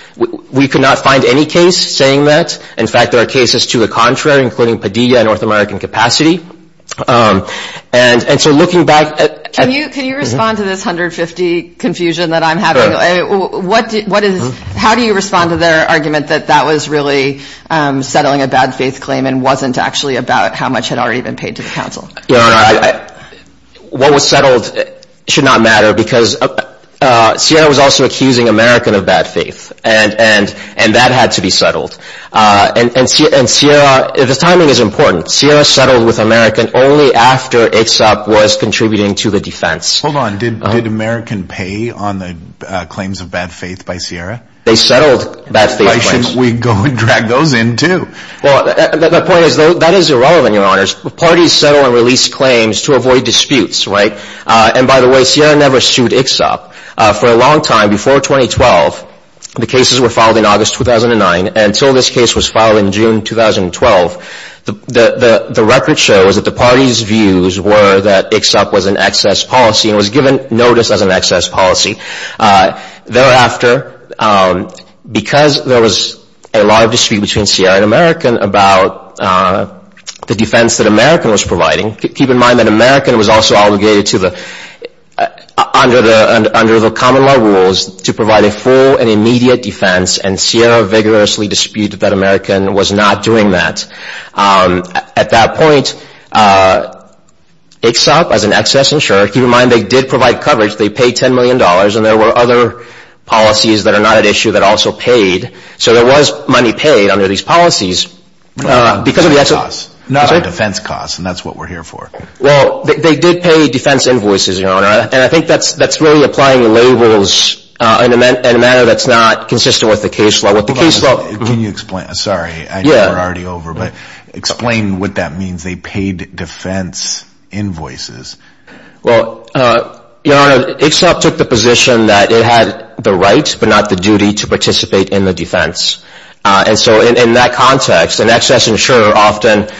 We could not find any case saying that. In fact, there are cases to the contrary, including Padilla and North American Capacity. And so looking back at – Can you respond to this 150 confusion that I'm having? How do you respond to their argument that that was really settling a bad faith claim and wasn't actually about how much had already been paid to the counsel? What was settled should not matter because Sierra was also accusing American of bad faith, and that had to be settled. And Sierra – the timing is important. Sierra settled with American only after ICSOP was contributing to the defense. Hold on. Did American pay on the claims of bad faith by Sierra? They settled bad faith claims. Why shouldn't we go and drag those in too? Well, the point is that is irrelevant, Your Honors. Parties settle and release claims to avoid disputes, right? And by the way, Sierra never sued ICSOP. For a long time, before 2012, the cases were filed in August 2009, and until this case was filed in June 2012, the record shows that the parties' views were that ICSOP was an excess policy and was given notice as an excess policy. Thereafter, because there was a lot of dispute between Sierra and American about the defense that American was providing – keep in mind that American was also obligated to the – under the common law rules to provide a full and immediate defense, and Sierra vigorously disputed that American was not doing that. At that point, ICSOP, as an excess insurer – keep in mind they did provide coverage, they paid $10 million, and there were other policies that are not at issue that also paid. So there was money paid under these policies because of the excess – Defense costs, and that's what we're here for. Well, they did pay defense invoices, Your Honor, and I think that's really applying labels in a manner that's not consistent with the case law. Can you explain – sorry, I know we're already over, but explain what that means, they paid defense invoices. Well, Your Honor, ICSOP took the position that it had the right, but not the duty, to participate in the defense. And so in that context, an excess insurer often –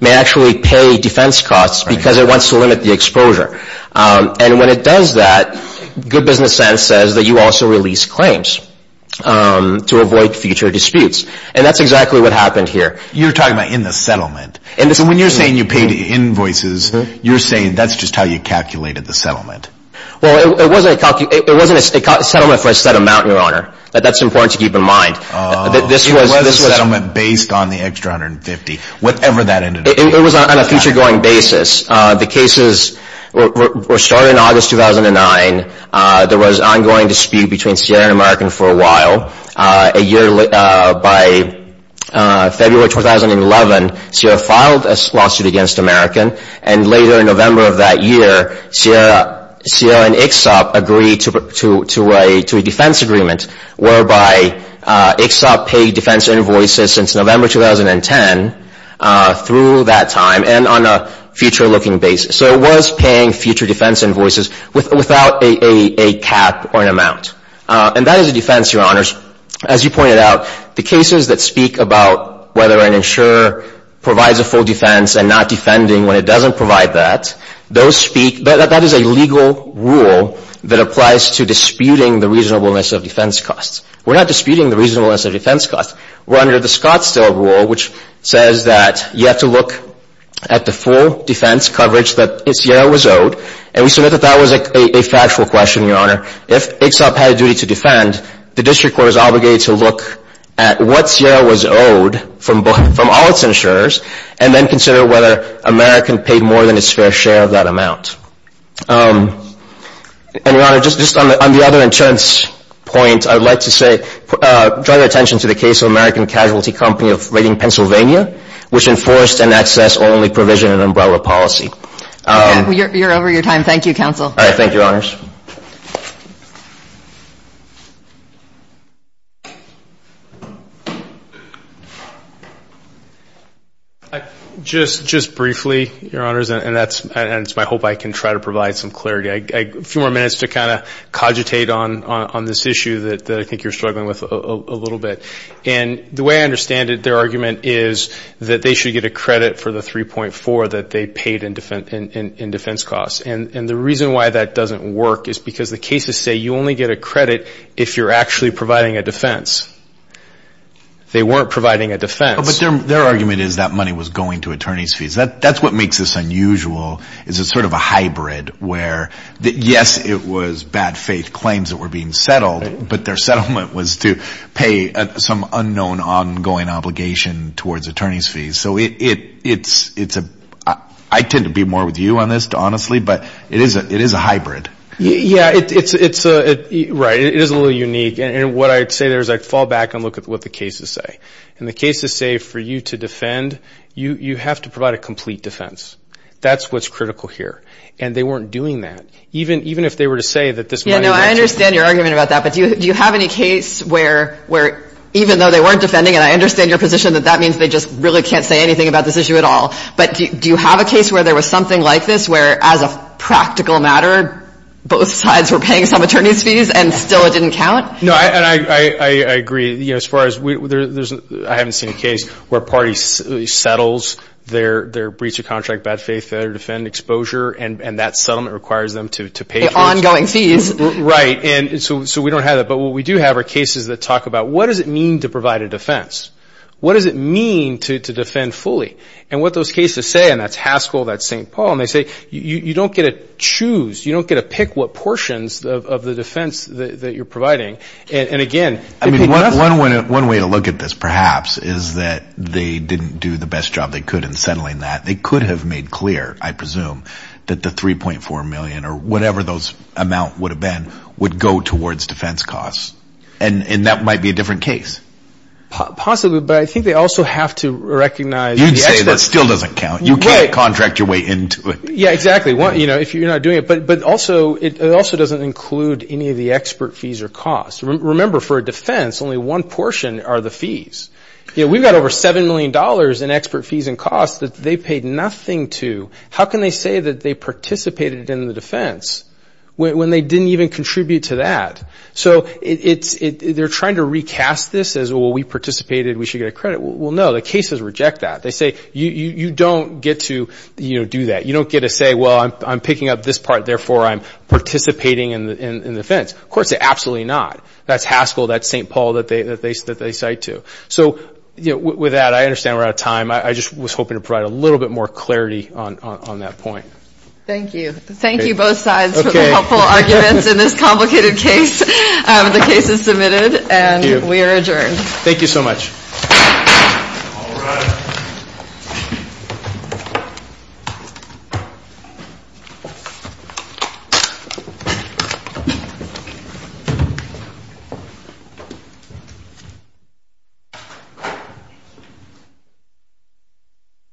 may actually pay defense costs because it wants to limit the exposure. And when it does that, good business sense says that you also release claims to avoid future disputes, and that's exactly what happened here. You're talking about in the settlement. So when you're saying you paid invoices, you're saying that's just how you calculated the settlement. Well, it wasn't a settlement for a set amount, Your Honor. That's important to keep in mind. It was a settlement based on the extra $150, whatever that ended up being. It was on a future-going basis. The cases were started in August 2009. There was an ongoing dispute between Sierra and American for a while. By February 2011, Sierra filed a lawsuit against American, and later in November of that year, Sierra and ICSOP agreed to a defense agreement whereby ICSOP paid defense invoices since November 2010 through that time, and on a future-looking basis. So it was paying future defense invoices without a cap or an amount. And that is a defense, Your Honors. As you pointed out, the cases that speak about whether an insurer provides a full defense and not defending when it doesn't provide that, that is a legal rule that applies to disputing the reasonableness of defense costs. We're not disputing the reasonableness of defense costs. We're under the Scottsdale Rule, which says that you have to look at the full defense coverage that Sierra was owed, and we submit that that was a factual question, Your Honor. If ICSOP had a duty to defend, the district court is obligated to look at what Sierra was owed from all its insurers, and then consider whether American paid more than its fair share of that amount. And, Your Honor, just on the other insurance point, I would like to say, draw your attention to the case of American Casualty Company of Reading, Pennsylvania, which enforced an access-only provision and umbrella policy. You're over your time. All right. Thank you, Your Honors. Just briefly, Your Honors, and it's my hope I can try to provide some clarity, a few more minutes to kind of cogitate on this issue that I think you're struggling with a little bit. And the way I understand it, their argument is that they should get a credit for the 3.4 that they paid in defense costs. And the reason why that doesn't work is because the cases say you only get a credit if you're actually providing a defense. They weren't providing a defense. But their argument is that money was going to attorney's fees. That's what makes this unusual, is it's sort of a hybrid where, yes, it was bad faith claims that were being settled, but their settlement was to pay some unknown ongoing obligation towards attorney's fees. So it's a – I tend to be more with you on this, honestly, but it is a hybrid. Yeah, it's – right, it is a little unique. And what I'd say there is I'd fall back and look at what the cases say. And the cases say for you to defend, you have to provide a complete defense. That's what's critical here. And they weren't doing that. Even if they were to say that this money was – Yeah, no, I understand your argument about that. But do you have any case where, even though they weren't defending, and I understand your position that that means they just really can't say anything about this issue at all, but do you have a case where there was something like this where, as a practical matter, both sides were paying some attorney's fees and still it didn't count? No, and I agree. As far as – I haven't seen a case where a party settles their breach of contract, bad faith, failure to defend, exposure, and that settlement requires them to pay fees. Ongoing fees. Right. And so we don't have that. But what we do have are cases that talk about what does it mean to provide a defense? What does it mean to defend fully? And what those cases say – and that's Haskell, that's St. Paul – and they say you don't get to choose, you don't get to pick what portions of the defense that you're providing. And, again – I mean, one way to look at this, perhaps, is that they didn't do the best job they could in settling that. They could have made clear, I presume, that the $3.4 million or whatever those amount would have been would go towards defense costs. And that might be a different case. Possibly, but I think they also have to recognize – You'd say that still doesn't count. You can't contract your way into it. Yeah, exactly. If you're not doing it. But it also doesn't include any of the expert fees or costs. Remember, for a defense, only one portion are the fees. We've got over $7 million in expert fees and costs that they paid nothing to. How can they say that they participated in the defense when they didn't even contribute to that? So they're trying to recast this as, well, we participated, we should get a credit. Well, no. The cases reject that. They say, you don't get to do that. You don't get to say, well, I'm picking up this part, therefore I'm participating in the defense. Of course, absolutely not. That's Haskell. That's St. Paul that they cite to. So with that, I understand we're out of time. I just was hoping to provide a little bit more clarity on that point. Thank you. Thank you, both sides, for the helpful arguments in this complicated case. The case is submitted, and we are adjourned. Thank you so much. All rise.